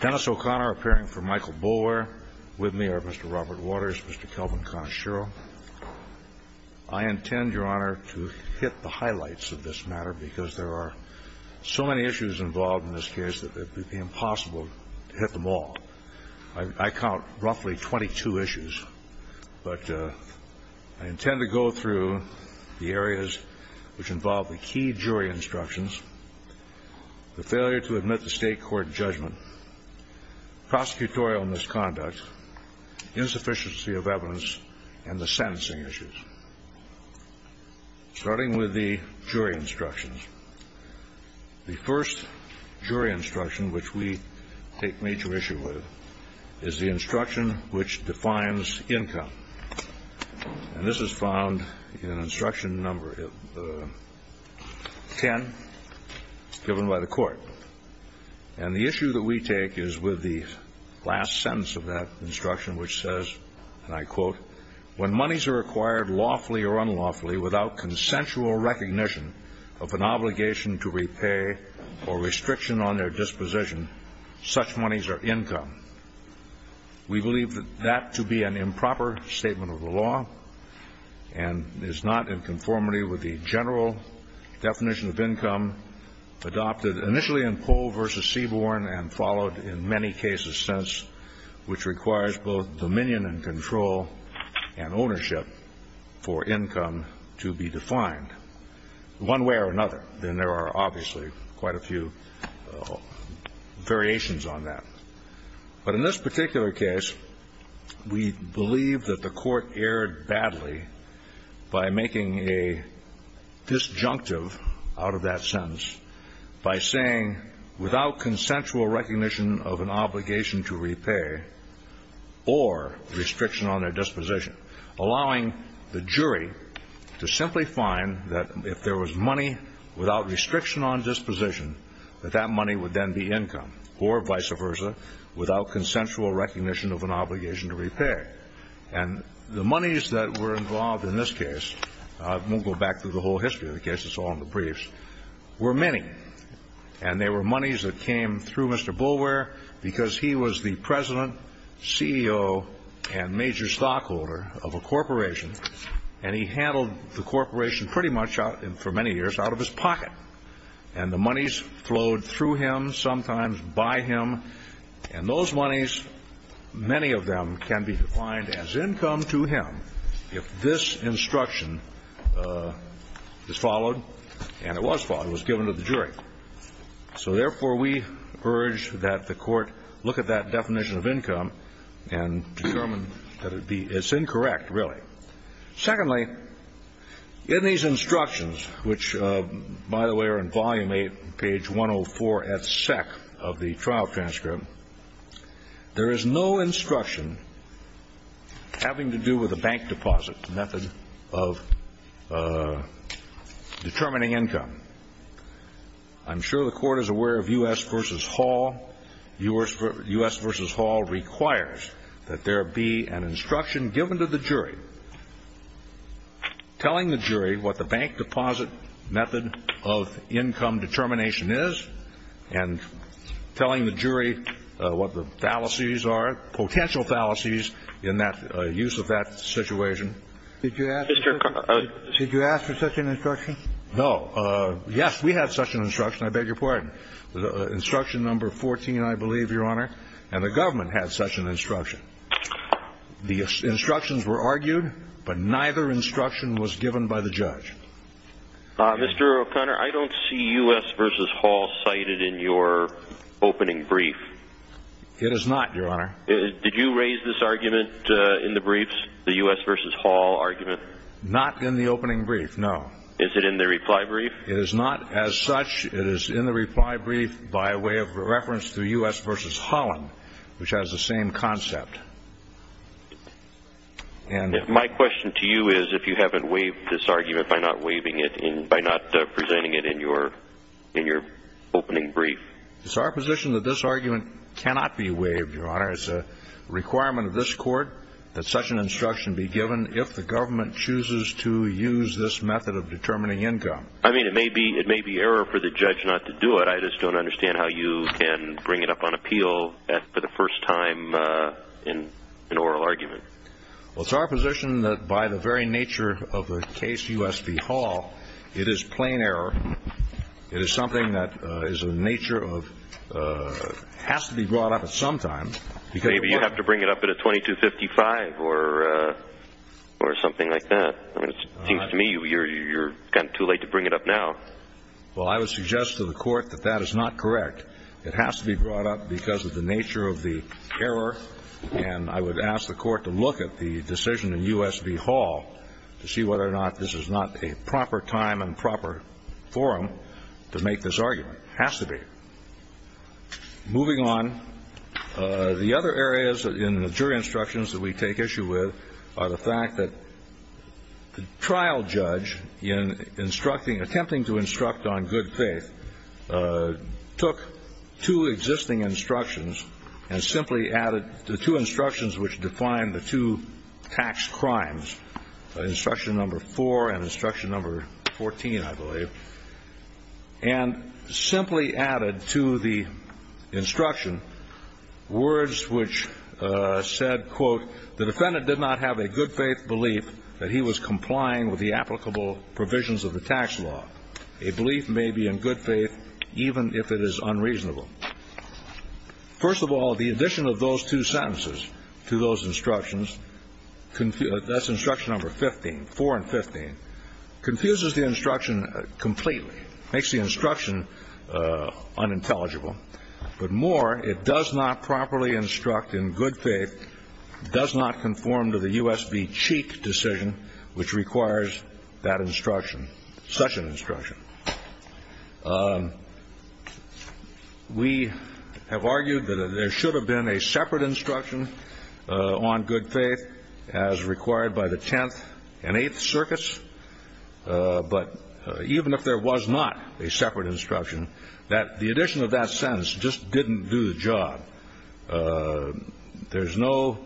Dennis O'Connor appearing for Michael Boulware. With me are Mr. Robert Waters, Mr. Kelvin Conashiro. I intend, Your Honor, to hit the highlights of this matter because there are so many issues involved in this case that it would be impossible to hit them all. I count roughly 22 issues. But I intend to go through the areas which involve the key jury instructions, the failure to admit to state court judgment, prosecutorial misconduct, insufficiency of evidence, and the sentencing issues. Starting with the jury instructions, the first jury instruction which we take major issue with is the instruction which defines income. And this is found in instruction number 10 given by the court. And the issue that we take is with the last sentence of that instruction which says, and I quote, when monies are acquired lawfully or unlawfully without consensual recognition of an obligation to repay or restriction on their disposition, such monies are income. We believe that to be an improper statement of the law and is not in conformity with the general definition of income adopted initially in Pohl v. Seaborne and followed in many cases since, which requires both dominion and control and ownership for income to be defined. One way or another, and there are obviously quite a few variations on that, but in this particular case, we believe that the court erred badly by making a disjunctive out of that sentence by saying without consensual recognition of an obligation to repay or restriction on their disposition, allowing the jury to simply define that if there was money without restriction on disposition, that that money would then be income or vice versa without consensual recognition of an obligation to repay. And the monies that were involved in this case, I won't go back through the whole history of the case, it's all in the briefs, were many. And they were monies that came through Mr. Boulware because he was the president, CEO, and major stockholder of a corporation and he handled the corporation pretty much for many years out of his pocket. And the monies flowed through him, sometimes by him, and those monies, many of them can be defined as income to him if this instruction is followed, and it was followed, it was given to the jury. So therefore, we urge that the court look at that definition of income and determine that it be, it's incorrect, really. Secondly, in these instructions, which, by the way, are in Volume 8, page 104, et sec., of the trial transcript, there is no instruction having to do with a bank deposit method of determining income. I'm sure the Court is given to the jury, telling the jury what the bank deposit method of income determination is and telling the jury what the fallacies are, potential fallacies in that use of that situation. Did you ask for such an instruction? No. Yes, we had such an instruction, I beg your pardon. Instruction number 14, I believe, Your Honor, and the government had such an instruction. The instructions were argued, but neither instruction was given by the judge. Mr. O'Connor, I don't see U.S. v. Hall cited in your opening brief. It is not, Your Honor. Did you raise this argument in the briefs, the U.S. v. Hall argument? Not in the opening brief, no. Is it in the reply brief? It is not as such. It is in the reply brief by way of reference to U.S. v. Hall, which has the same concept. My question to you is if you haven't waived this argument by not presenting it in your opening brief. It's our position that this argument cannot be waived, Your Honor. It's a requirement of this Court that such an instruction be given if the government chooses to use this method of determining income. I mean, it may be error for the judge not to do it. I just don't understand how you can bring it up on appeal for the first time in an oral argument. It's our position that by the very nature of the case U.S. v. Hall, it is plain error. It is something that has to be brought up at some time. Maybe you have to bring it up at a 2255 or something like that. It seems to me you're kind of too late to bring it up now. Well, I would suggest to the Court that that is not correct. It has to be brought up because of the nature of the error. And I would ask the Court to look at the decision in U.S. v. Hall to see whether or not this is not a proper time and proper forum to make this argument. It has to be. Moving on, the other areas in the jury instructions that we take issue with are the fact that the trial judge in instructing, attempting to instruct on good faith, took two existing instructions and simply added the two instructions which define the two tax crimes, instruction number four and instruction number 14, I believe, and simply added to the instruction words which said, quote, the defendant did not have a good faith belief that he was complying with the applicable provisions of the tax law. A belief may be in good faith even if it is unreasonable. First of all, the addition of those two sentences to those instructions, that's instruction number 15, four and 15, confuses the instruction completely, makes the instruction unintelligible. But more, it does not properly instruct in good faith, does not conform to the U.S. v. Cheek decision which requires that instruction, such an instruction. We have argued that there should have been a separate instruction on good faith as required by the Tenth and Eighth Circuits, but even if there was not a separate instruction, that the addition of that sentence just didn't do the job. There's no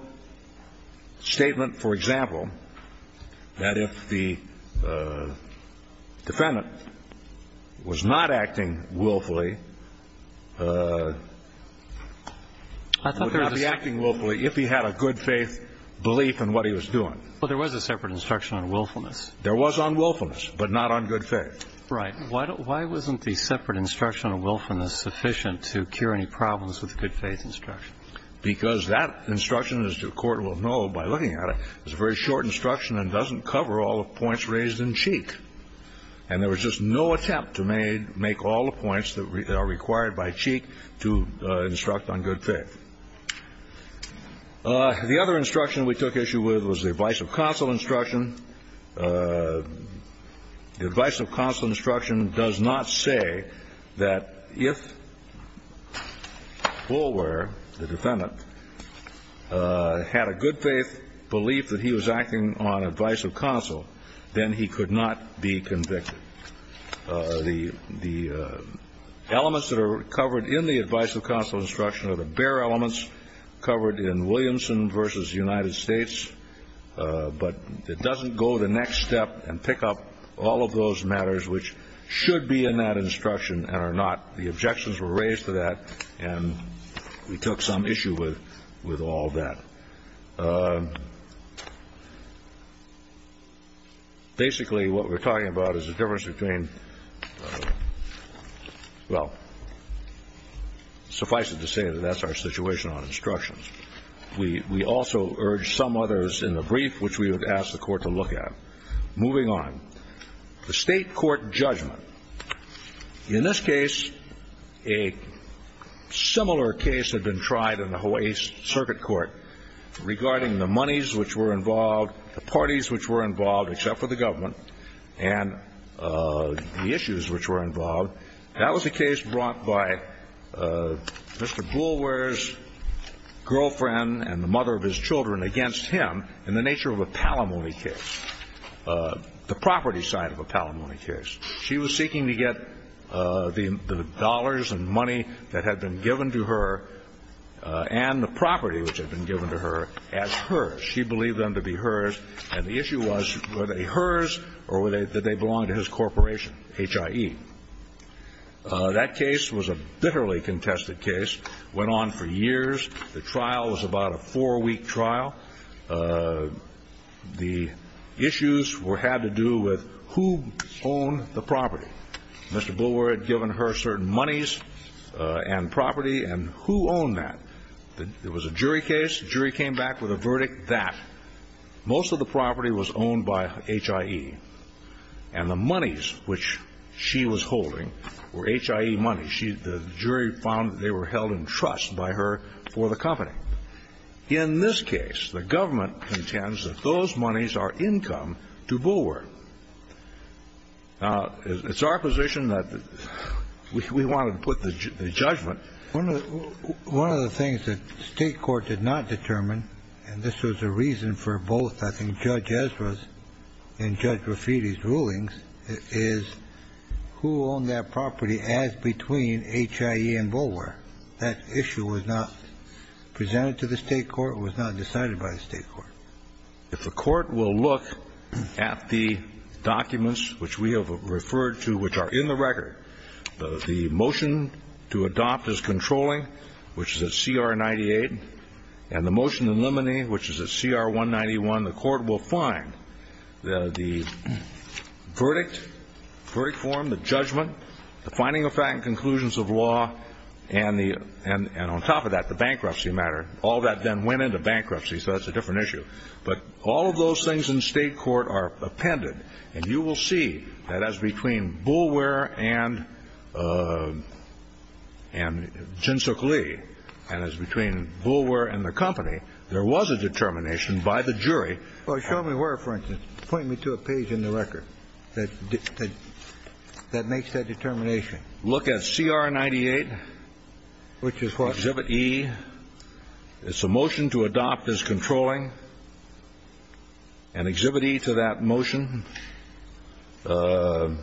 statement, for example, that if the defendant was not acting willfully, would not be acting willfully if he had a good faith belief in what he was doing. Well, there was a separate instruction on willfulness. There was on willfulness, but not on good faith. Right. Why wasn't the separate instruction on willfulness sufficient to cure any problems with the good faith instruction? Because that instruction, as the Court will know by looking at it, is a very short instruction and doesn't cover all the points raised in Cheek. And there was just no attempt to make all the points that are required by Cheek to instruct on good faith. The other instruction we took issue with was the advice of counsel instruction. The advice of counsel instruction does not say that if Boulware, the defendant, had a good faith belief that he was acting on advice of counsel, then he could not be convicted. The elements that are covered in the advice of counsel instruction are the bare elements in Williamson v. United States, but it doesn't go to the next step and pick up all of those matters which should be in that instruction and are not. The objections were raised to that, and we took some issue with all that. Basically, what we're talking about is the difference between, well, suffice it to say that that's our situation on instructions. We also urge some others in the brief which we would ask the Court to look at. Moving on, the state court judgment. In this case, a similar case had been tried in the Hawaii Circuit Court regarding the monies which were involved, the parties which were involved except for the government, and the issues which were involved. That was a case brought by Mr. Boulware's girlfriend and the mother of his children against him in the nature of a palimony case, the property side of a palimony case. She was seeking to get the dollars and money that had been given to her and the property which had been given to her as hers. She believed them to be hers, and the issue was were they hers or did they belong to his corporation, HIE? That case was a bitterly contested case. It went on for years. The trial was about a four-week trial. The issues had to do with who owned the property. Mr. Boulware had given her certain monies and property, and who owned that? It was a jury case. The jury came back with a verdict that most of the property was owned by HIE, and the monies which she was holding were HIE monies. The jury found that they were held in trust by her for the company. In this case, the government intends that those monies are income to Boulware. Now, it's our position that we want to put the judgment. One of the things that the state court did not determine, and this was a reason for both, I think, Judge Ezra's and Judge Rafiti's rulings, is who owned that property as between HIE and Boulware. That issue was not presented to the state court. It was not decided by the state court. If the court will look at the documents which we have referred to, which are in the record, the motion to adopt is controlling, which is at CR 98, and the motion to eliminate, which is at CR 191, the court will find the verdict, verdict form, the judgment, the finding of fact and conclusions of law, and on top of that, the bankruptcy matter. All that then went into bankruptcy, so that's a different issue. But all of those things in state court are appended, and you will see that as between Boulware and Jinsook Lee and as between Boulware and the company, there was a determination by the jury. Well, show me where, for instance. Point me to a page in the record that makes that determination. Look at CR 98. Which is what? Exhibit E. It's a motion to adopt as controlling, and Exhibit E to that motion is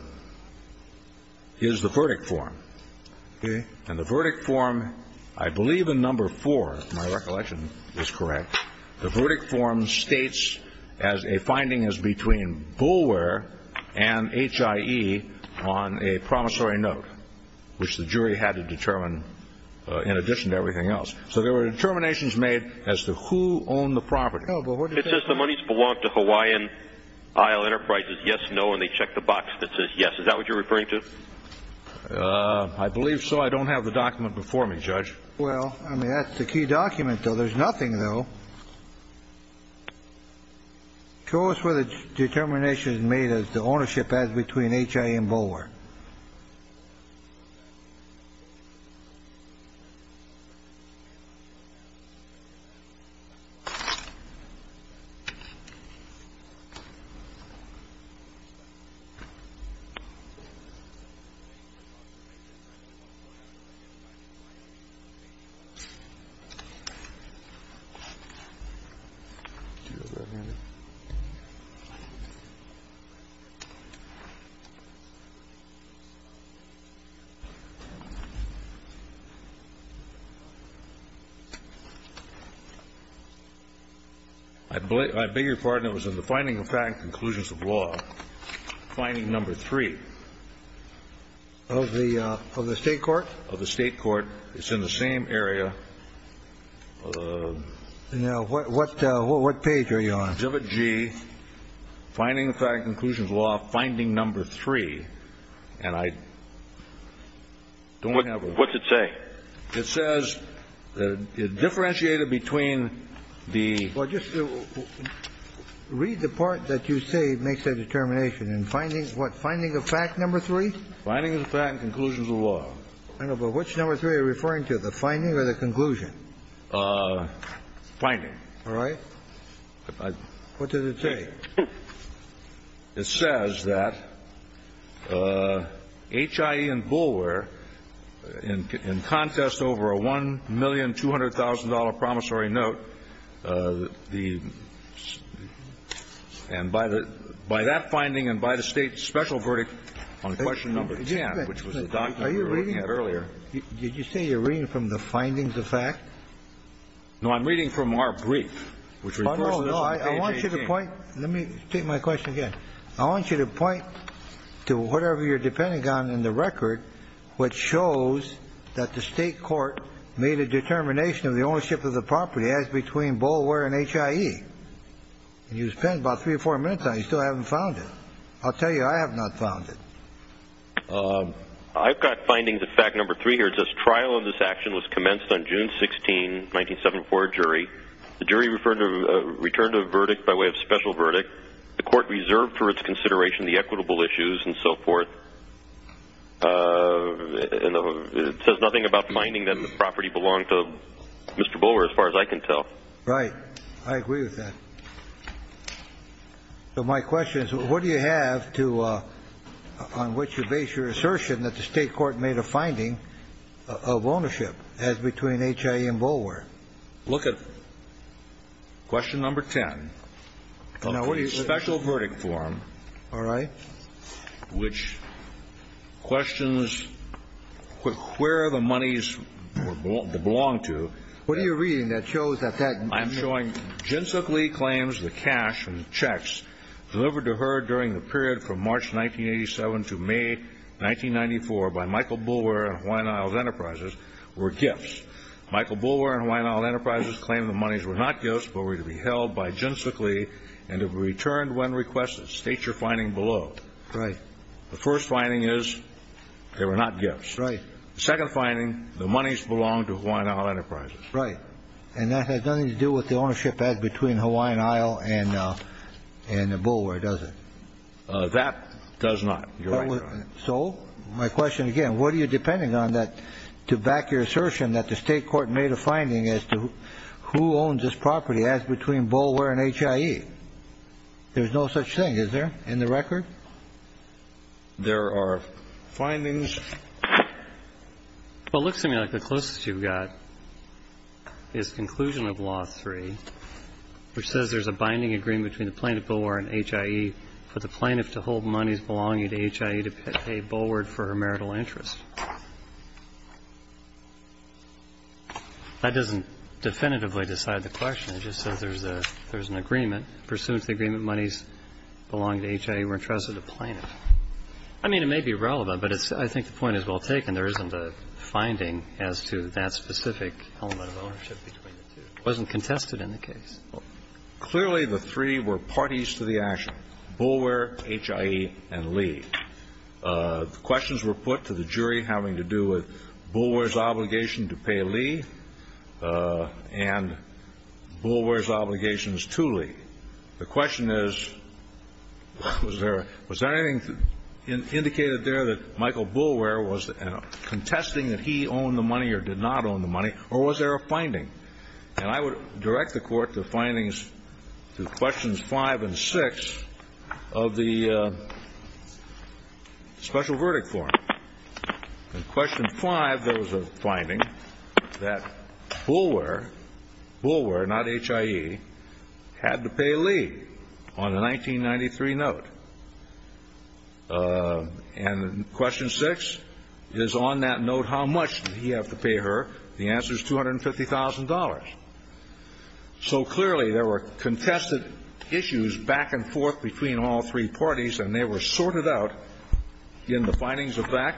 the verdict form. Okay. And the verdict form, I believe in number four, if my recollection is correct, the verdict form states as a finding as between Boulware and HIE on a promissory note, which the jury had to determine in addition to everything else. So there were determinations made as to who owned the property. It says the monies belong to Hawaiian Isle Enterprises. Yes, no, and they check the box that says yes. Is that what you're referring to? I believe so. I don't have the document before me, Judge. Well, I mean, that's the key document, though. There's nothing, though. Show us where the determination is made as to ownership as between HIE and Boulware. I beg your pardon. It was in the finding of fact and conclusions of law, finding number three. Of the State court? Of the State court. It's in the same area. Now, what page are you on? Exhibit G, finding of fact and conclusions of law, finding number three. And I don't have it. What's it say? It says it differentiated between the ---- Well, just read the part that you say makes the determination. In finding, what, finding of fact number three? Finding of fact and conclusions of law. I know, but which number three are you referring to, the finding or the conclusion? Finding. All right. What does it say? It says that HIE and Boulware, in contest over a $1,200,000 promissory note, the And by that finding and by the State's special verdict on question number 10, which was the document we were looking at earlier. Are you reading? Did you say you're reading from the findings of fact? No, I'm reading from our brief, which refers to this on page 18. No, no. I want you to point. Let me state my question again. I want you to point to whatever you're depending on in the record, which shows that the State court made a determination of the ownership of the property as between Boulware and HIE. And you spent about three or four minutes on it. You still haven't found it. I'll tell you, I have not found it. I've got findings of fact number three here. It says trial of this action was commenced on June 16, 1974, a jury. The jury returned a verdict by way of special verdict. The court reserved for its consideration the equitable issues and so forth. It says nothing about finding that the property belonged to Mr. Boulware as far as I can tell. Right. I agree with that. So my question is, what do you have on which to base your assertion that the State court made a finding of ownership as between HIE and Boulware? Look at question number 10. A pretty special verdict form. All right. Which questions where the monies belong to. What are you reading that shows that that? I'm showing Jinsuk Lee claims the cash and checks delivered to her during the period from March 1987 to May 1994 by Michael Boulware and Hawaiian Isles Enterprises were gifts. Michael Boulware and Hawaiian Isles Enterprises claimed the monies were not gifts but were to be held by Jinsuk Lee and to be returned when requested. State your finding below. Right. The first finding is they were not gifts. Right. The second finding, the monies belonged to Hawaiian Isles Enterprises. Right. And that has nothing to do with the ownership as between Hawaiian Isles and Boulware, does it? That does not. So my question again, what are you depending on that to back your assertion that the state court made a finding as to who owns this property as between Boulware and HIE? There's no such thing, is there, in the record? There are findings. Well, it looks to me like the closest you've got is conclusion of Law 3, which says there's a binding agreement between the plaintiff, Boulware, and HIE for the plaintiff to hold monies belonging to HIE to pay Boulware for her marital interest. That doesn't definitively decide the question. It just says there's an agreement. Pursuant to the agreement, monies belonging to HIE were entrusted to plaintiff. I mean, it may be relevant, but I think the point is well taken. There isn't a finding as to that specific element of ownership between the two. It wasn't contested in the case. Clearly, the three were parties to the action, Boulware, HIE, and Lee. The questions were put to the jury having to do with Boulware's obligation to pay Lee and Boulware's obligations to Lee. The question is, was there anything indicated there that Michael Boulware was contesting that he owned the money or did not own the money, or was there a finding? And I would direct the Court to findings through questions 5 and 6 of the special verdict form. In question 5, there was a finding that Boulware, Boulware, not HIE, had to pay Lee on a 1993 note. And question 6 is on that note, how much did he have to pay her? The answer is $250,000. So clearly, there were contested issues back and forth between all three parties, and they were sorted out in the findings of that.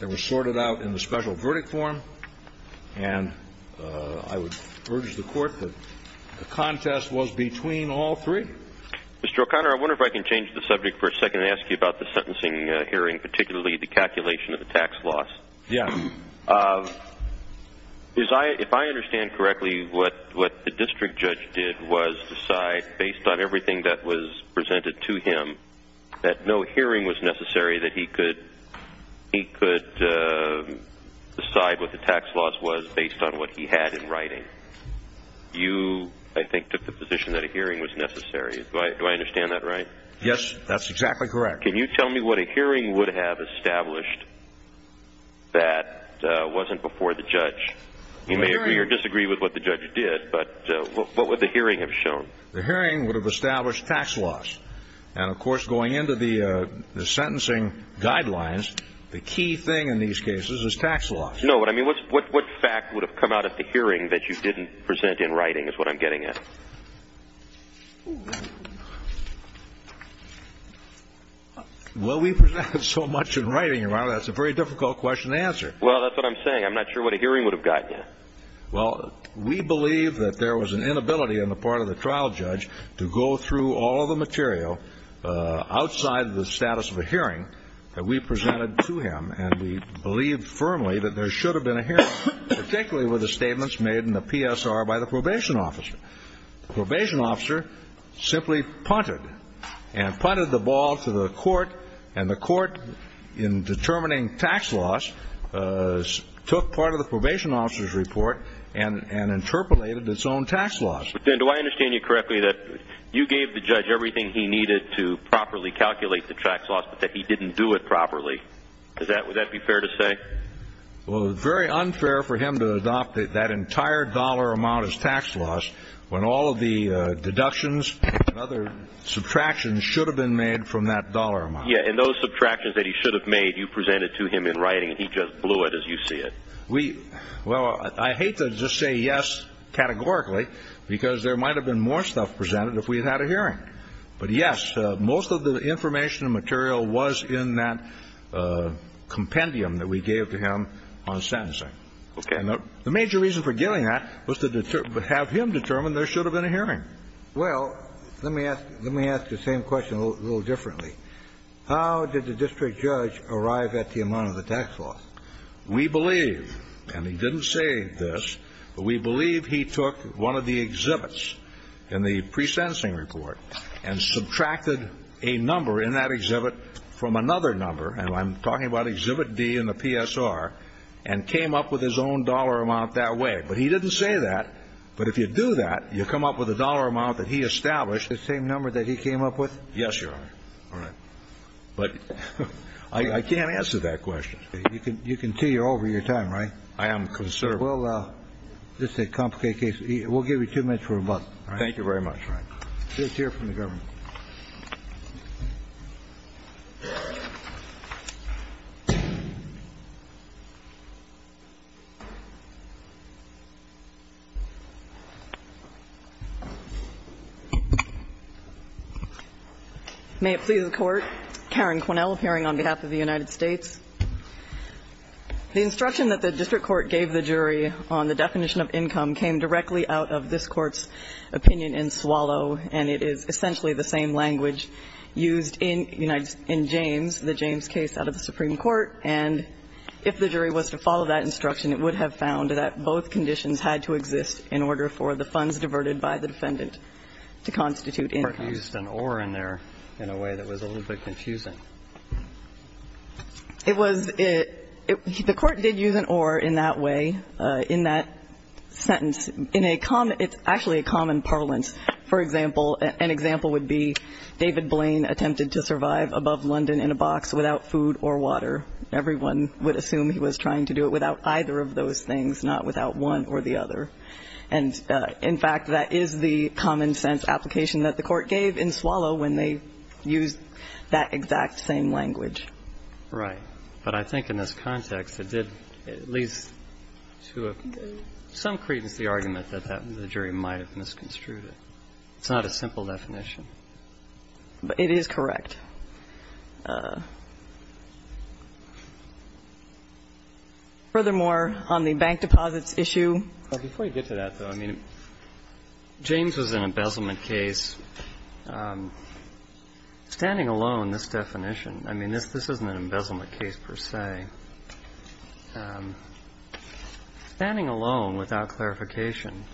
They were sorted out in the special verdict form, and I would urge the Court that the contest was between all three. Mr. O'Connor, I wonder if I can change the subject for a second and ask you about the sentencing hearing, particularly the calculation of the tax loss. Yes. If I understand correctly, what the district judge did was decide, based on everything that was presented to him, that no hearing was necessary, that he could decide what the tax loss was based on what he had in writing. You, I think, took the position that a hearing was necessary. Do I understand that right? Yes, that's exactly correct. Mr. O'Connor, can you tell me what a hearing would have established that wasn't before the judge? You may agree or disagree with what the judge did, but what would the hearing have shown? The hearing would have established tax loss. And, of course, going into the sentencing guidelines, the key thing in these cases is tax loss. No, but I mean, what fact would have come out of the hearing that you didn't present in writing is what I'm getting at. Well, we presented so much in writing, Your Honor, that's a very difficult question to answer. Well, that's what I'm saying. I'm not sure what a hearing would have gotten you. Well, we believe that there was an inability on the part of the trial judge to go through all of the material outside the status of a hearing that we presented to him. And we believe firmly that there should have been a hearing, particularly with the statements made in the PSR by the probation officer. The probation officer simply punted and punted the ball to the court, and the court, in determining tax loss, took part of the probation officer's report and interpolated its own tax loss. But, then, do I understand you correctly that you gave the judge everything he needed to properly calculate the tax loss, but that he didn't do it properly? Would that be fair to say? Well, it's very unfair for him to adopt that entire dollar amount as tax loss when all of the deductions and other subtractions should have been made from that dollar amount. Yeah, and those subtractions that he should have made, you presented to him in writing, and he just blew it as you see it. Well, I hate to just say yes categorically, because there might have been more stuff presented if we had had a hearing. But, yes, most of the information and material was in that compendium that we gave to him on sentencing. Okay. And the major reason for giving that was to have him determine there should have been a hearing. Well, let me ask you the same question a little differently. How did the district judge arrive at the amount of the tax loss? We believe, and he didn't say this, but we believe he took one of the exhibits in the presencing report and subtracted a number in that exhibit from another number, and I'm talking about exhibit D in the PSR, and came up with his own dollar amount that way. But he didn't say that. But if you do that, you come up with a dollar amount that he established. The same number that he came up with? Yes, Your Honor. All right. But I can't answer that question. You can tell you're over your time, right? I am concerned. Well, this is a complicated case. We'll give you two minutes for rebuttal. Thank you very much, Your Honor. Just hear from the government. May it please the Court. Karen Quinnell, appearing on behalf of the United States. The instruction that the district court gave the jury on the definition of income came directly out of this court's opinion in Swallow, and it is essentially the same language used in James, the James case out of the Supreme Court. And if the jury was to follow that instruction, it would have found that both conditions had to exist in order for the funds diverted by the defendant to constitute income. The court used an or in there in a way that was a little bit confusing. It was the court did use an or in that way, in that sentence. It's actually a common parlance. For example, an example would be David Blaine attempted to survive above London in a box without food or water. Everyone would assume he was trying to do it without either of those things, not without one or the other. And, in fact, that is the common-sense application that the Court gave in Swallow when they used that exact same language. Right. But I think in this context, it did at least to some credence the argument that the jury might have misconstrued it. It's not a simple definition. It is correct. Furthermore, on the bank deposits issue. Before you get to that, though, I mean, James was an embezzlement case. Standing alone, this definition, I mean, this isn't an embezzlement case per se. Standing alone, without clarification,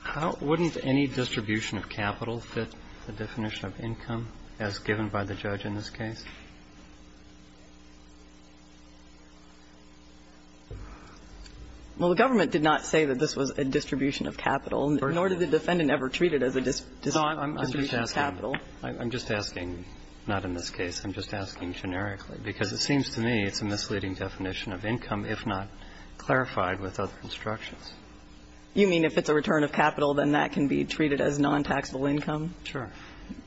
how wouldn't any distribution of capital fit the definition of income as given by the judge in this case? Well, the government did not say that this was a distribution of capital, nor did the defendant ever treat it as a distribution of capital. No, I'm just asking. I'm just asking, not in this case. I'm just asking generically, because it seems to me it's a misleading definition of income if not clarified with other instructions. You mean if it's a return of capital, then that can be treated as non-taxable income? Sure.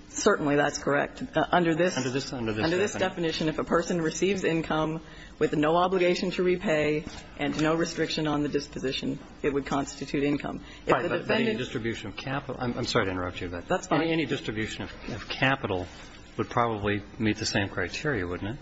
Certainly that's correct. Under this definition, if a person receives income with no obligation to repay and no restriction on the disposition, it would constitute income. Right, but any distribution of capital. I'm sorry to interrupt you. That's fine. Any distribution of capital would probably meet the same criteria, wouldn't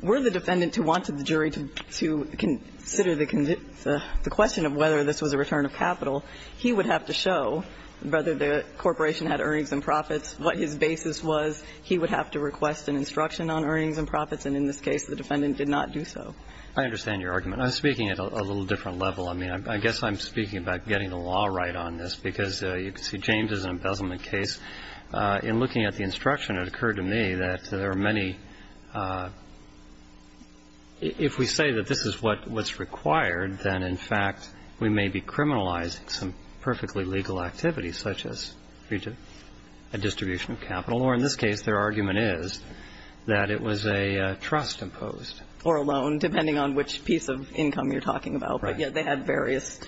Were the defendant who wanted the jury to consider the question of whether this was a return of capital, he would have to show whether the corporation had earnings and profits, what his basis was. He would have to request an instruction on earnings and profits, and in this case the defendant did not do so. I understand your argument. I'm speaking at a little different level. I mean, I guess I'm speaking about getting the law right on this, because you can see James is an embezzlement case. In looking at the instruction, it occurred to me that there are many, if we say that this is what's required, then in fact we may be criminalizing some perfectly legal activities such as a distribution of capital, or in this case their argument is that it was a trust imposed. Or a loan, depending on which piece of income you're talking about. Right. But, yeah, they had various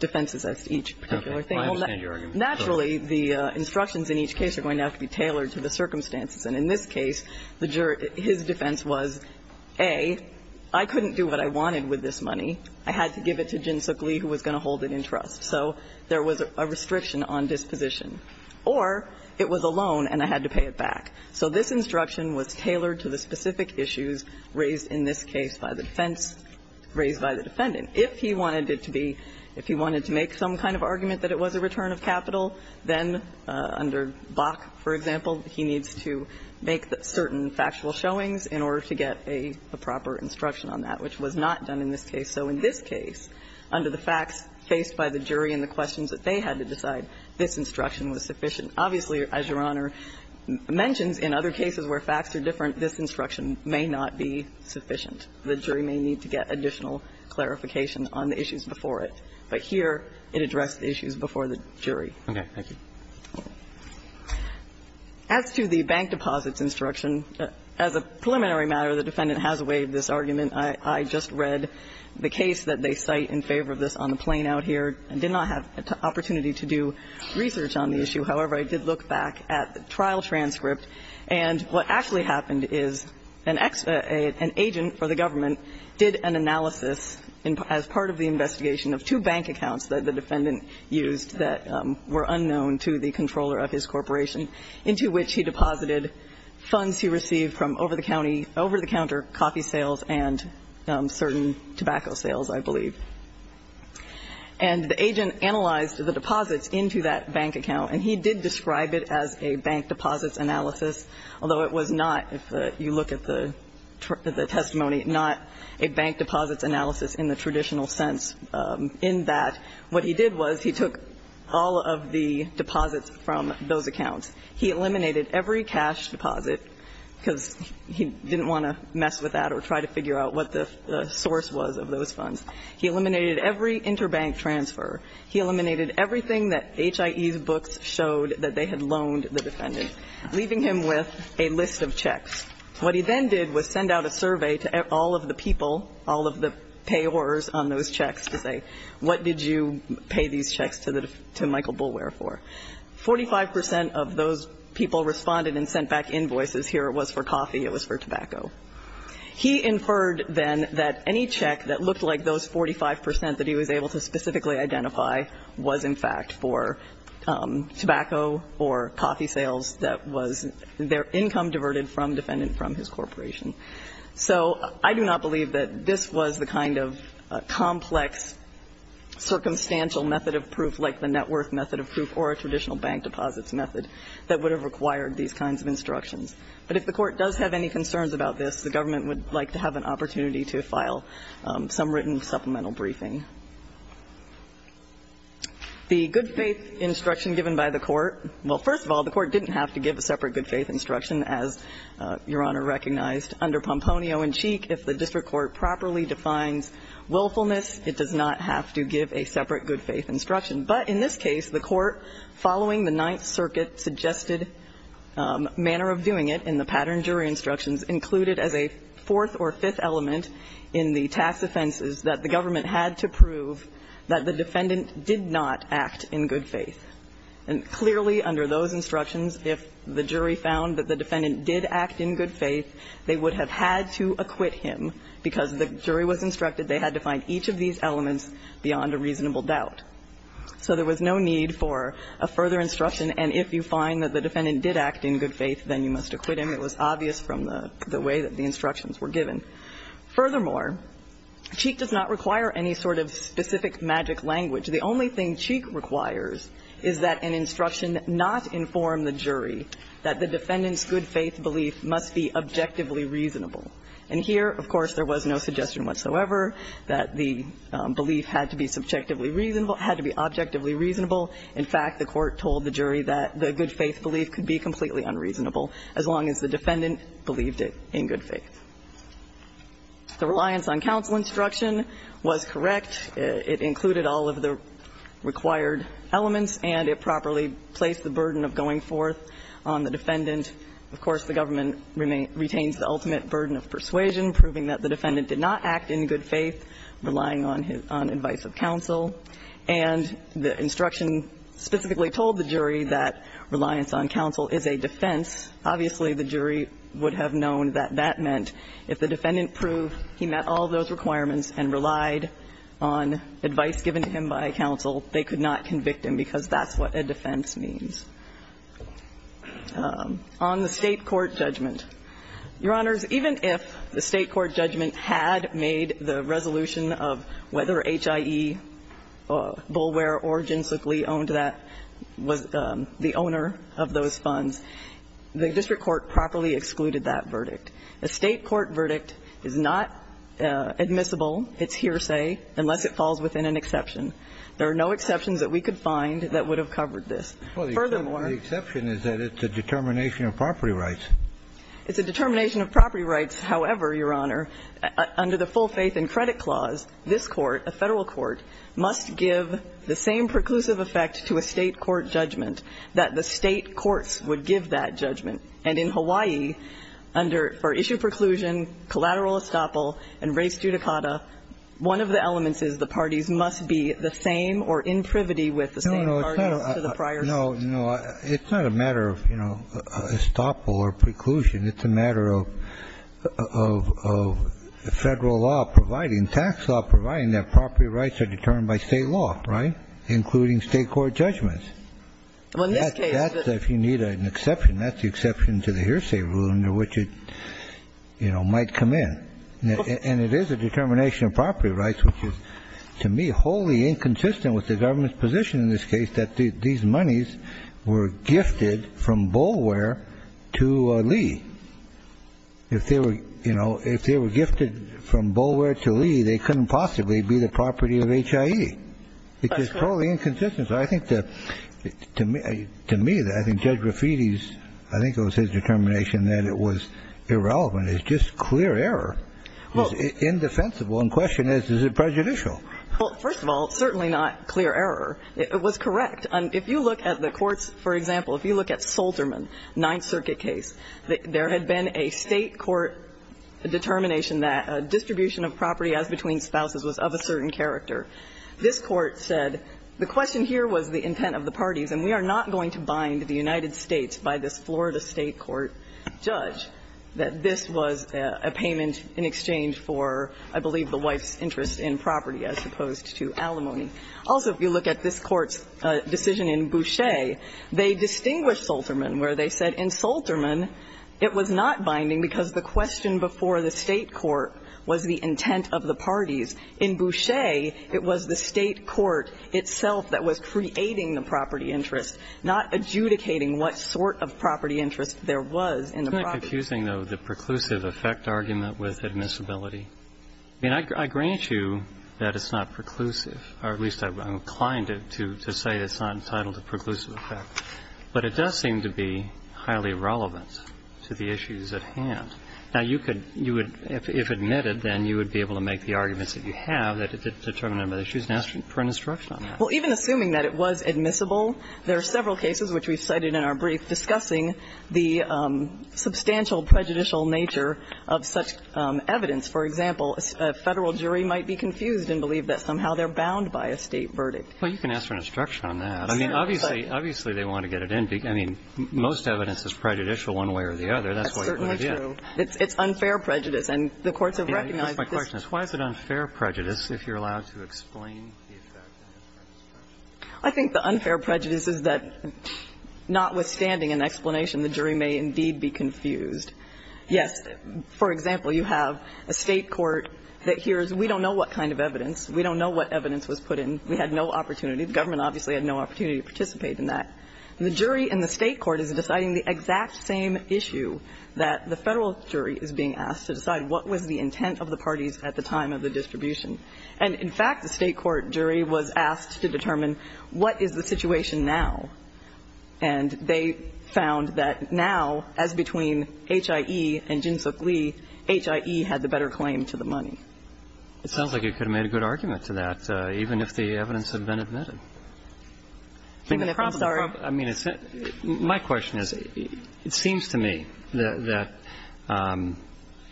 defenses as to each particular thing. I understand your argument. Naturally, the instructions in each case are going to have to be tailored to the circumstances. And in this case, his defense was, A, I couldn't do what I wanted with this money. I had to give it to Jinsook Lee, who was going to hold it in trust. So there was a restriction on disposition. Or it was a loan and I had to pay it back. So this instruction was tailored to the specific issues raised in this case by the defense, raised by the defendant. And if he wanted it to be, if he wanted to make some kind of argument that it was a return of capital, then under Bach, for example, he needs to make certain factual showings in order to get a proper instruction on that, which was not done in this case. So in this case, under the facts faced by the jury and the questions that they had to decide, this instruction was sufficient. Obviously, as Your Honor mentions, in other cases where facts are different, this instruction may not be sufficient. The jury may need to get additional clarification on the issues before it. But here, it addressed the issues before the jury. Roberts. Okay. Thank you. As to the bank deposits instruction, as a preliminary matter, the defendant has waived this argument. I just read the case that they cite in favor of this on the plane out here. I did not have an opportunity to do research on the issue. However, I did look back at the trial transcript. And what actually happened is an agent for the government did an analysis as part of the investigation of two bank accounts that the defendant used that were unknown to the controller of his corporation, into which he deposited funds he received from over-the-counter coffee sales and certain tobacco sales, I believe. And the agent analyzed the deposits into that bank account, and he did describe it as a bank deposits analysis, although it was not, if you look at the testimony, not a bank deposits analysis in the traditional sense in that what he did was he took all of the deposits from those accounts. He eliminated every cash deposit because he didn't want to mess with that or try to figure out what the source was of those funds. He eliminated every interbank transfer. He eliminated everything that HIE's books showed that they had loaned the defendant, leaving him with a list of checks. What he then did was send out a survey to all of the people, all of the payors on those checks to say, what did you pay these checks to Michael Boulware for? Forty-five percent of those people responded and sent back invoices. Here it was for coffee. It was for tobacco. He inferred then that any check that looked like those 45 percent that he was able to specifically identify was, in fact, for tobacco or coffee sales that was their income diverted from defendant from his corporation. So I do not believe that this was the kind of complex circumstantial method of proof like the net worth method of proof or a traditional bank deposits method that would have required these kinds of instructions. But if the Court does have any concerns about this, the government would like to have an opportunity to file some written supplemental briefing. The good-faith instruction given by the Court, well, first of all, the Court didn't have to give a separate good-faith instruction, as Your Honor recognized, under Pomponio and Cheek. If the district court properly defines willfulness, it does not have to give a separate good-faith instruction. But in this case, the Court, following the Ninth Circuit suggested manner of doing it in the pattern jury instructions, included as a fourth or fifth element in the tax offenses that the government had to prove that the defendant did not act in good faith. And clearly under those instructions, if the jury found that the defendant did act in good faith, they would have had to acquit him, because the jury was instructed they had to find each of these elements beyond a reasonable doubt. So there was no need for a further instruction, and if you find that the defendant did act in good faith, then you must acquit him. It was obvious from the way that the instructions were given. Furthermore, Cheek does not require any sort of specific magic language. The only thing Cheek requires is that an instruction not inform the jury that the defendant's good-faith belief must be objectively reasonable. And here, of course, there was no suggestion whatsoever that the belief had to be subjectively reasonable, had to be objectively reasonable. In fact, the Court told the jury that the good-faith belief could be completely unreasonable as long as the defendant believed it in good faith. The reliance on counsel instruction was correct. It included all of the required elements, and it properly placed the burden of going forth on the defendant. Of course, the government retains the ultimate burden of persuasion, proving that the defendant did not act in good faith, relying on advice of counsel. And the instruction specifically told the jury that reliance on counsel is a defense. Obviously, the jury would have known that that meant if the defendant proved he met all those requirements and relied on advice given to him by counsel, they could not convict him, because that's what a defense means. On the State court judgment, Your Honors, even if the State court judgment had made it, the resolution of whether HIE, Bulware, or Jinsuk Lee owned that, was the owner of those funds, the district court properly excluded that verdict. A State court verdict is not admissible, it's hearsay, unless it falls within an exception. There are no exceptions that we could find that would have covered this. Furthermore ---- The exception is that it's a determination of property rights. It's a determination of property rights, however, Your Honor, under the full faith and credit clause, this Court, a Federal court, must give the same preclusive effect to a State court judgment, that the State courts would give that judgment. And in Hawaii, under ---- for issue preclusion, collateral estoppel, and res judicata, one of the elements is the parties must be the same or in privity with the same parties to the prior suit. No, no. It's not a matter of, you know, estoppel or preclusion. It's a matter of Federal law providing, tax law providing that property rights are determined by State law, right, including State court judgments. That's if you need an exception. That's the exception to the hearsay rule under which it, you know, might come in. And it is a determination of property rights, which is, to me, wholly inconsistent with the government's position in this case that these monies were gifted from Bulware to Lee. If they were, you know, if they were gifted from Bulware to Lee, they couldn't possibly be the property of HIE. That's right. It's totally inconsistent. So I think that, to me, I think Judge Rafiti's, I think it was his determination that it was irrelevant. It's just clear error. It was indefensible. And the question is, is it prejudicial? Well, first of all, it's certainly not clear error. It was correct. And if you look at the courts, for example, if you look at Solterman, Ninth Circuit case, there had been a State court determination that distribution of property as between spouses was of a certain character. This Court said the question here was the intent of the parties, and we are not going to bind the United States by this Florida State court judge, that this was a payment in exchange for, I believe, the wife's interest in property as opposed to alimony. Also, if you look at this Court's decision in Boucher, they distinguished Solterman where they said in Solterman it was not binding because the question before the State court was the intent of the parties. In Boucher, it was the State court itself that was creating the property interest, not adjudicating what sort of property interest there was in the property. Isn't that confusing, though, the preclusive effect argument with admissibility? I mean, I grant you that it's not preclusive. Or at least I'm inclined to say it's not entitled to preclusive effect. But it does seem to be highly relevant to the issues at hand. Now, you could – you would – if admitted, then you would be able to make the arguments that you have that it's determined by the issues and ask for an instruction on that. Well, even assuming that it was admissible, there are several cases which we've cited in our brief discussing the substantial prejudicial nature of such evidence. For example, a Federal jury might be confused and believe that somehow they're bound by a State verdict. Well, you can ask for an instruction on that. I mean, obviously – obviously, they want to get it in. I mean, most evidence is prejudicial one way or the other. That's why you put it in. That's certainly true. It's unfair prejudice. And the courts have recognized this. My question is, why is it unfair prejudice if you're allowed to explain the effect of unfair instruction? I think the unfair prejudice is that, notwithstanding an explanation, the jury may indeed be confused. Yes, for example, you have a State court that hears, we don't know what kind of evidence, we don't know what evidence was put in, we had no opportunity. The government obviously had no opportunity to participate in that. The jury in the State court is deciding the exact same issue that the Federal jury is being asked to decide what was the intent of the parties at the time of the distribution. And, in fact, the State court jury was asked to determine what is the situation now. And they found that now, as between HIE and Jinsook Lee, HIE had the better claim to the money. It sounds like you could have made a good argument to that, even if the evidence had been admitted. I mean, my question is, it seems to me that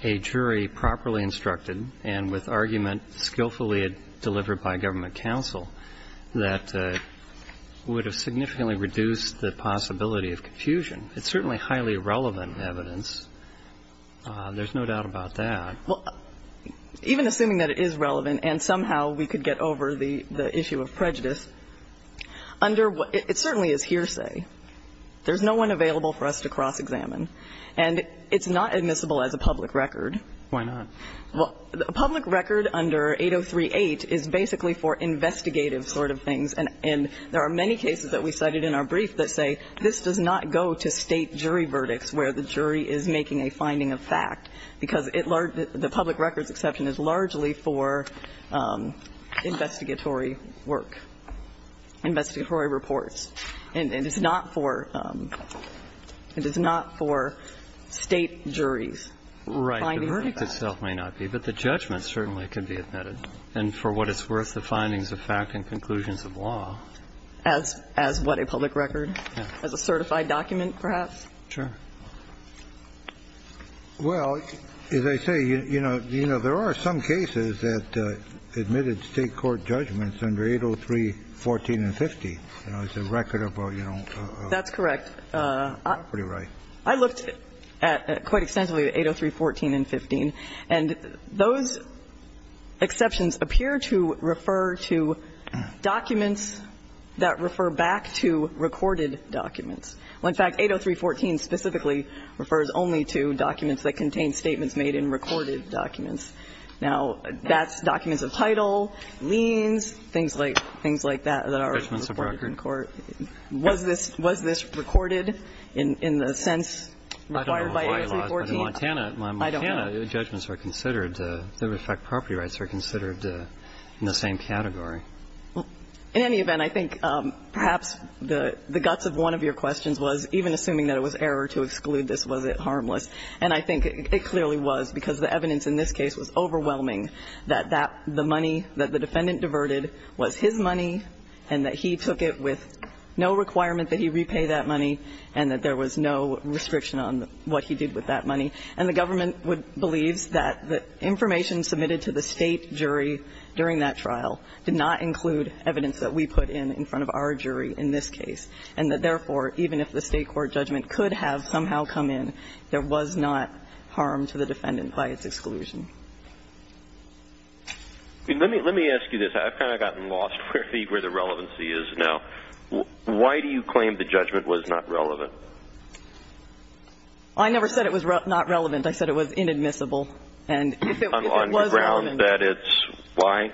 a jury properly instructed and with argument skillfully delivered by a government counsel that would have significantly reduced the possibility of confusion. It's certainly highly relevant evidence. There's no doubt about that. Well, even assuming that it is relevant and somehow we could get over the issue of prejudice, under what – it certainly is hearsay. There's no one available for us to cross-examine. And it's not admissible as a public record. Why not? Well, a public record under 8038 is basically for investigative sort of things. And there are many cases that we cited in our brief that say this does not go to State jury verdicts where the jury is making a finding of fact, because it – the public records exception is largely for investigatory work, investigatory reports. And it's not for – it is not for State juries finding facts. Right. The verdict itself may not be, but the judgment certainly can be admitted. And for what it's worth, the findings of fact and conclusions of law. As what? A public record? Yeah. As a certified document, perhaps? Sure. Well, as I say, you know, there are some cases that admitted State court judgments under 803.14 and 50. You know, it's a record about, you know, property rights. That's correct. Property rights. I looked at – quite extensively at 803.14 and 50. And those exceptions appear to refer to documents that refer back to recorded documents. Well, in fact, 803.14 specifically refers only to documents that contain statements made in recorded documents. Now, that's documents of title, liens, things like – things like that that are recorded in court. Was this – was this recorded in the sense required by 803.14? I don't know why it was. In Montana, the judgments were considered – in fact, property rights were considered in the same category. In any event, I think perhaps the guts of one of your questions was, even assuming that it was error to exclude this, was it harmless? And I think it clearly was, because the evidence in this case was overwhelming that that – the money that the defendant diverted was his money and that he took it with no requirement that he repay that money and that there was no restriction on what he did with that money. And the government believes that the information submitted to the State jury during that trial did not include evidence that we put in in front of our jury in this case and that, therefore, even if the State court judgment could have somehow come in, there was not harm to the defendant by its exclusion. Let me – let me ask you this. I've kind of gotten lost where the – where the relevancy is now. Why do you claim the judgment was not relevant? I never said it was not relevant. I said it was inadmissible. And if it was relevant. On the grounds that it's – why?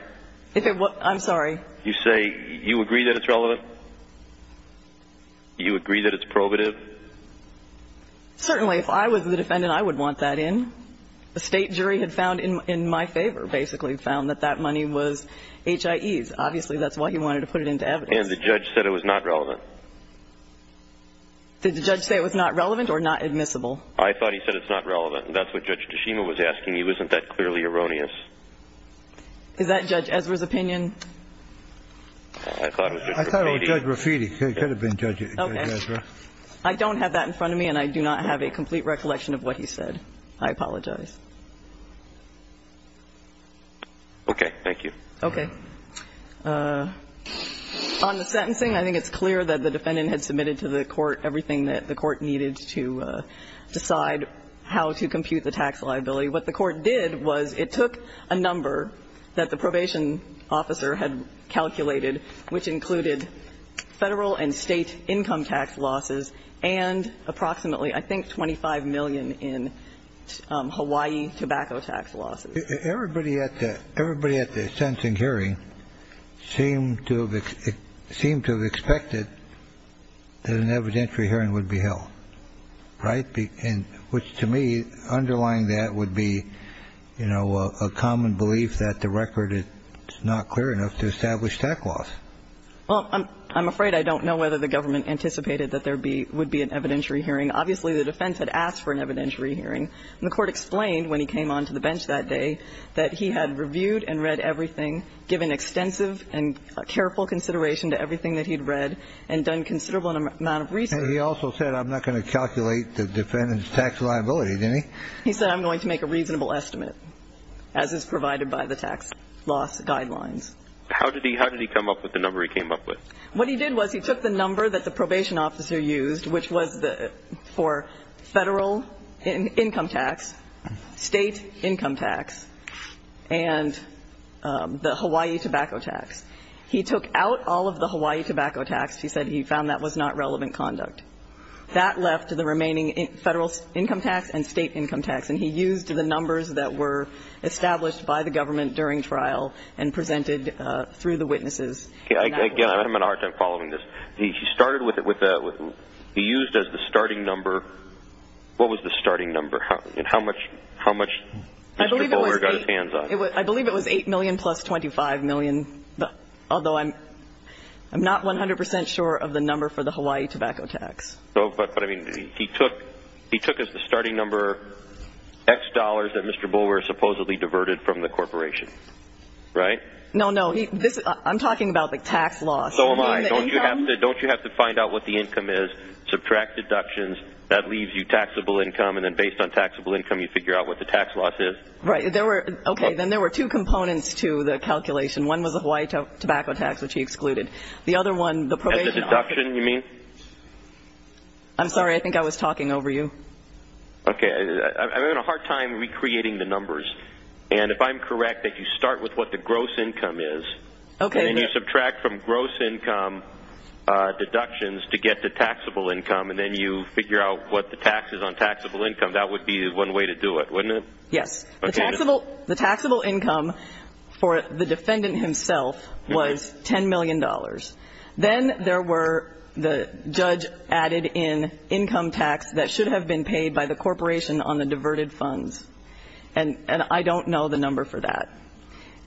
If it was – I'm sorry. You say you agree that it's relevant? You agree that it's probative? Certainly. If I was the defendant, I would want that in. The State jury had found in my favor, basically, found that that money was HIE's. Obviously, that's why he wanted to put it into evidence. And the judge said it was not relevant. Did the judge say it was not relevant or not admissible? I thought he said it's not relevant. And that's what Judge Toshima was asking. He wasn't that clearly erroneous. Is that Judge Ezra's opinion? I thought it was Judge Raffiti. I thought it was Judge Raffiti. It could have been Judge Ezra. I don't have that in front of me, and I do not have a complete recollection of what he said. I apologize. Okay. Thank you. Okay. On the sentencing, I think it's clear that the defendant had submitted to the court everything that the court needed to decide how to compute the tax liability. What the court did was it took a number that the probation officer had calculated, which included Federal and State income tax losses and approximately, I think, $25 million in Hawaii tobacco tax losses. Everybody at the sentencing hearing seemed to have expected that an evidentiary hearing would be held, right, which, to me, underlying that would be, you know, a common belief that the record is not clear enough to establish tax loss. Well, I'm afraid I don't know whether the government anticipated that there would be an evidentiary hearing. Obviously, the defense had asked for an evidentiary hearing, and the court explained when he came on to the bench that day that he had reviewed and read everything, given extensive and careful consideration to everything that he'd read and done considerable amount of research. And he also said, I'm not going to calculate the defendant's tax liability, didn't he? He said, I'm going to make a reasonable estimate. As is provided by the tax loss guidelines. How did he come up with the number he came up with? What he did was he took the number that the probation officer used, which was for Federal income tax, State income tax, and the Hawaii tobacco tax. He took out all of the Hawaii tobacco tax. He said he found that was not relevant conduct. That left the remaining Federal income tax and State income tax. And he used the numbers that were established by the government during trial and presented through the witnesses. Again, I'm going to have a hard time following this. He started with a he used as the starting number. What was the starting number? And how much Mr. Goldwater got his hands on? I believe it was $8 million plus $25 million, although I'm not 100 percent sure of the number for the Hawaii tobacco tax. But, I mean, he took as the starting number X dollars that Mr. Goldwater supposedly diverted from the corporation. Right? No, no. I'm talking about the tax loss. Oh, my. Don't you have to find out what the income is, subtract deductions. That leaves you taxable income. And then based on taxable income, you figure out what the tax loss is. Right. Okay. Then there were two components to the calculation. One was the Hawaii tobacco tax, which he excluded. The other one, the probation officer. Probation, you mean? I'm sorry. I think I was talking over you. Okay. I'm having a hard time recreating the numbers. And if I'm correct, that you start with what the gross income is. Okay. And then you subtract from gross income deductions to get to taxable income. And then you figure out what the tax is on taxable income. That would be one way to do it, wouldn't it? Yes. The taxable income for the defendant himself was $10 million. Then there were the judge added in income tax that should have been paid by the corporation on the diverted funds. And I don't know the number for that.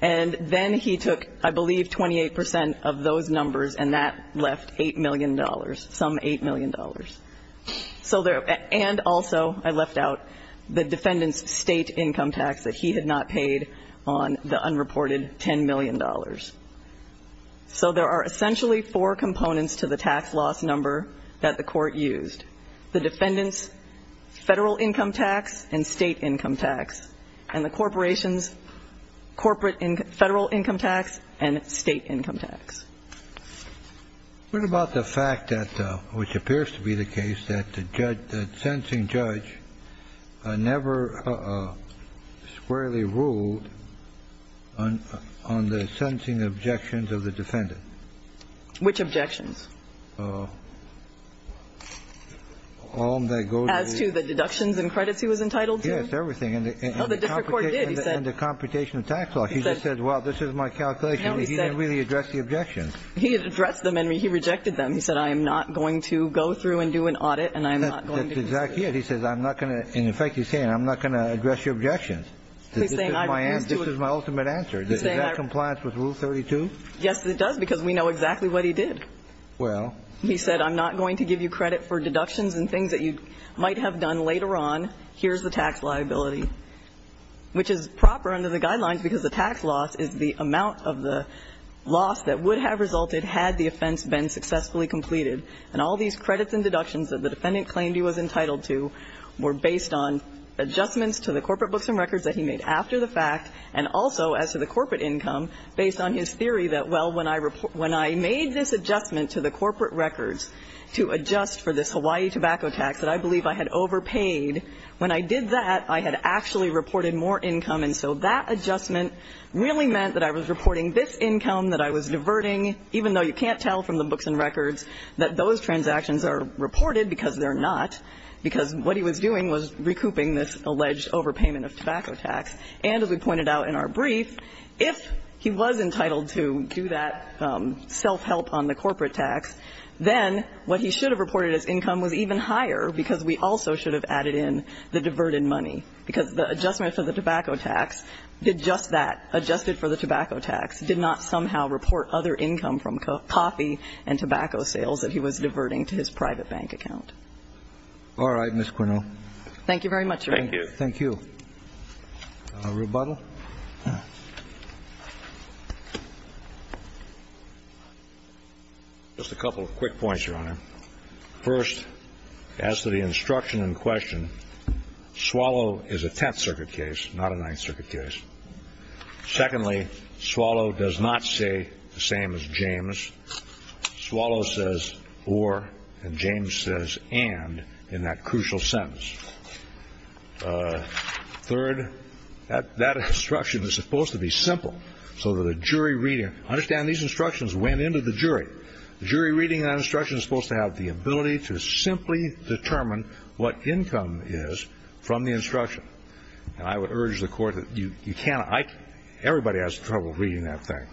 And then he took, I believe, 28% of those numbers, and that left $8 million, some $8 million. And also I left out the defendant's state income tax that he had not paid on the unreported $10 million. So there are essentially four components to the tax loss number that the court used, the defendant's federal income tax and state income tax, and the corporation's federal income tax and state income tax. What about the fact that, which appears to be the case, that the sentencing judge never squarely ruled on the sentencing objections of the defendant? Which objections? As to the deductions and credits he was entitled to? Yes, everything. And the computation of tax law. He just said, well, this is my calculation. He didn't really address the objections. He addressed them, and he rejected them. He said, I am not going to go through and do an audit, and I am not going to pursue. That's exactly it. He says, I'm not going to. In effect, he's saying, I'm not going to address your objections. He's saying, I refuse to. This is my ultimate answer. He's saying, I refuse to. Does that have compliance with Rule 32? Yes, it does, because we know exactly what he did. Well. He said, I'm not going to give you credit for deductions and things that you might have done later on. Here's the tax liability, which is proper under the guidelines, because the tax loss is the amount of the loss that would have resulted had the offense been successfully completed. And all these credits and deductions that the defendant claimed he was entitled to were based on adjustments to the corporate books and records that he made after the fact, and also as to the corporate income, based on his theory that, well, when I made this adjustment to the corporate records to adjust for this Hawaii tobacco tax that I believe I had overpaid, when I did that, I had actually reported more income, and so that adjustment really meant that I was reporting this income that I was diverting, even though you can't tell from the books and records that those transactions are reported because they're not, because what he was doing was recouping this alleged overpayment of tobacco tax. And as we pointed out in our brief, if he was entitled to do that self-help on the corporate tax, then what he should have reported as income was even higher, because we also should have added in the diverted money, because the adjustment for the tobacco tax did not somehow report other income from coffee and tobacco sales that he was diverting to his private bank account. All right, Ms. Quinnell. Thank you very much, Your Honor. Thank you. Thank you. Rebuttal? Just a couple of quick points, Your Honor. First, as to the instruction in question, Swallow is a Tenth Circuit case, not a Ninth Circuit case. Secondly, Swallow does not say the same as James. Swallow says, or, and James says, and, in that crucial sentence. Third, that instruction is supposed to be simple, so that the jury reading, understand these instructions went into the jury. The jury reading that instruction is supposed to have the ability to simply determine what income is from the instruction. And I would urge the Court that you can't, everybody has trouble reading that thing.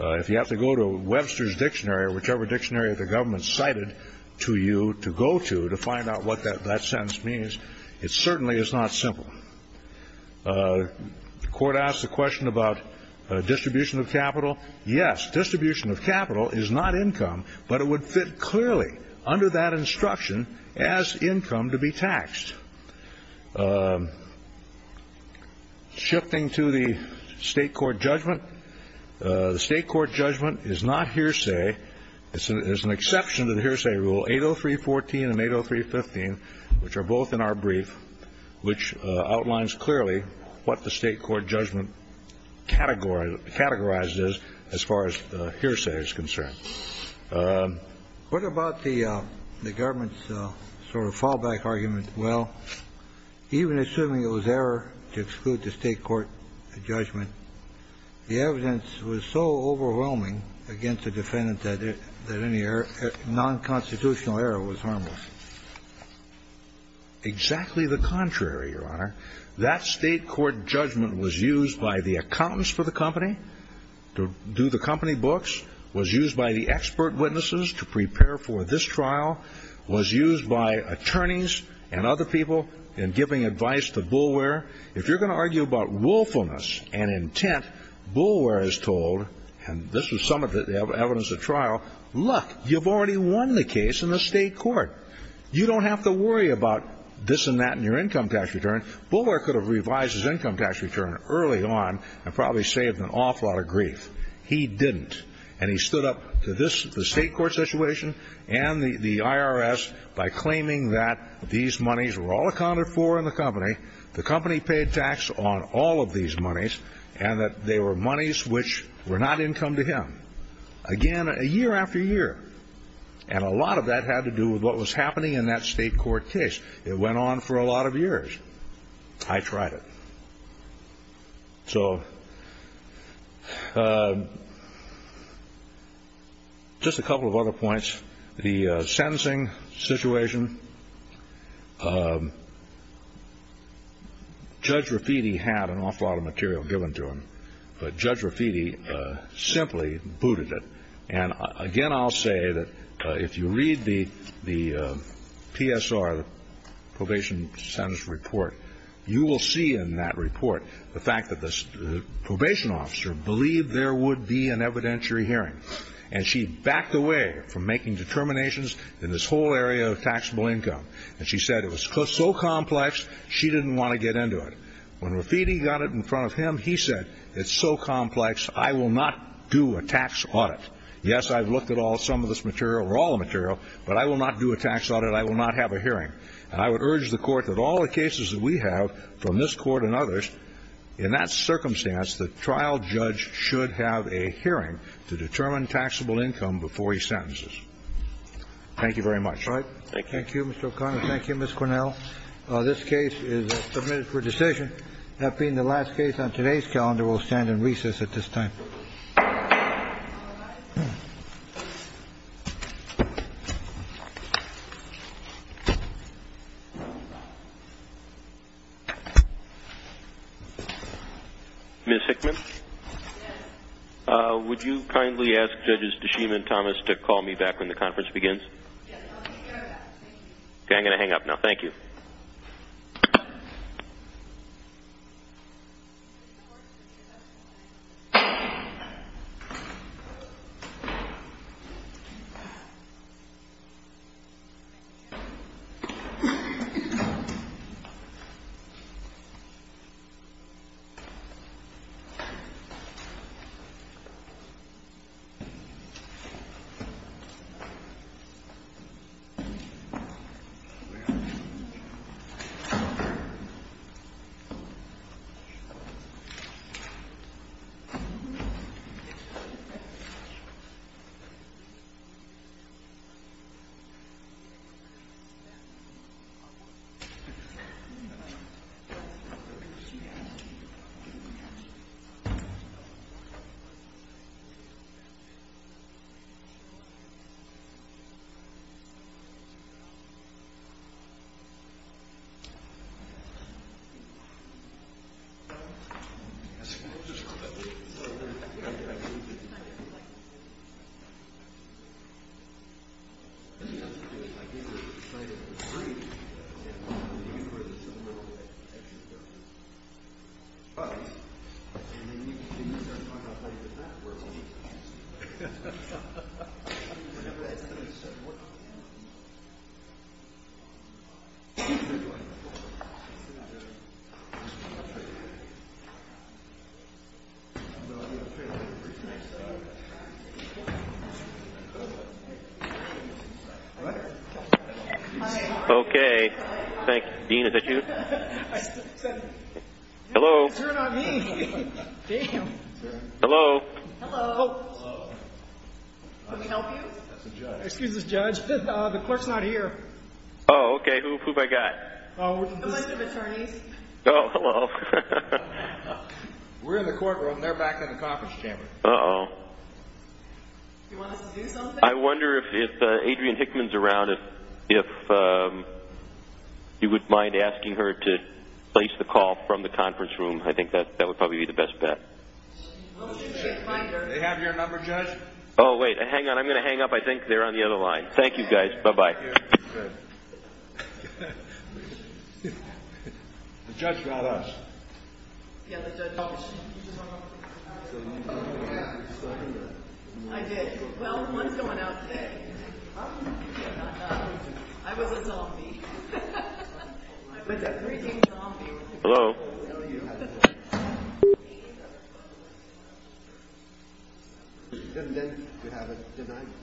If you have to go to Webster's dictionary, or whichever dictionary the government cited to you to go to, to find out what that sentence means, it certainly is not simple. The Court asked the question about distribution of capital. Yes, distribution of capital is not income, but it would fit clearly under that instruction as income to be taxed. Shifting to the State court judgment, the State court judgment is not hearsay. It's an exception to the hearsay rule, 803.14 and 803.15, which are both in our brief, which outlines clearly what the State court judgment categorized as far as hearsay is concerned. What about the government's sort of fallback argument? Well, even assuming it was error to exclude the State court judgment, the evidence was so overwhelming against the defendant that any non-constitutional error was harmless. Exactly the contrary, Your Honor. That State court judgment was used by the accountants for the company to do the company books, was used by the expert witnesses to prepare for this trial, was used by attorneys and other people in giving advice to Boulware. If you're going to argue about willfulness and intent, Boulware is told, and this was some of the evidence at trial, look, you've already won the case in the State court. You don't have to worry about this and that in your income tax return. Boulware could have revised his income tax return early on and probably saved an awful lot of grief. He didn't. And he stood up to the State court situation and the IRS by claiming that these monies were all accounted for in the company, the company paid tax on all of these monies, and that they were monies which were not income to him. Again, year after year. And a lot of that had to do with what was happening in that State court case. It went on for a lot of years. I tried it. So just a couple of other points. The sentencing situation, Judge Rafiti had an awful lot of material given to him, but Judge Rafiti simply booted it. And again, I'll say that if you read the PSR, the probation sentence report, you will see in that report the fact that the probation officer believed there would be an evidentiary hearing. And she backed away from making determinations in this whole area of taxable income. And she said it was so complex, she didn't want to get into it. When Rafiti got it in front of him, he said, it's so complex, I will not do a tax audit. Yes, I've looked at all some of this material, or all the material, but I will not do a tax audit. I will not have a hearing. And I would urge the Court that all the cases that we have from this Court and others, in that circumstance, the trial judge should have a hearing to determine taxable income before he sentences. Thank you very much. Thank you. Thank you, Mr. O'Connor. Thank you, Ms. Cornell. This case is submitted for decision. That being the last case on today's calendar, we'll stand in recess at this time. All rise. Ms. Hickman? Yes. Would you kindly ask Judges DeShima and Thomas to call me back when the conference begins? Yes, I'll be right back. Thank you. Okay, I'm going to hang up now. Thank you. Thank you. Thank you. Thank you. Okay. Thank you. Dean, is that you? Hello. Hello. Hello. Hello. Hello. Can we help you? Excuse us, Judge. The clerk's not here. Oh, okay. Who have I got? Okay. Thank you. Thank you. Thank you. Thank you. Thank you. Thank you. Thank you. Thank you. Thank you. Thank you. Thank you. Thank you. Thank you. Do you want us to do something? I wonder if Adrienne Hickman's around, if you wouldn't mind asking her to place the call from the conference room. I think that would probably be the best bet. They have your number, Judge? Oh, wait. Hang on. I'm going to hang up. I think they're on the other line. Thank you guys. Bye-bye. Thank you. Good. The judge got us. Yeah, the judge got us. I did. Well, one's going out today. I was a zombie. I was a freaking zombie. Hello? Thank you. Thank you. Thank you. Thank you.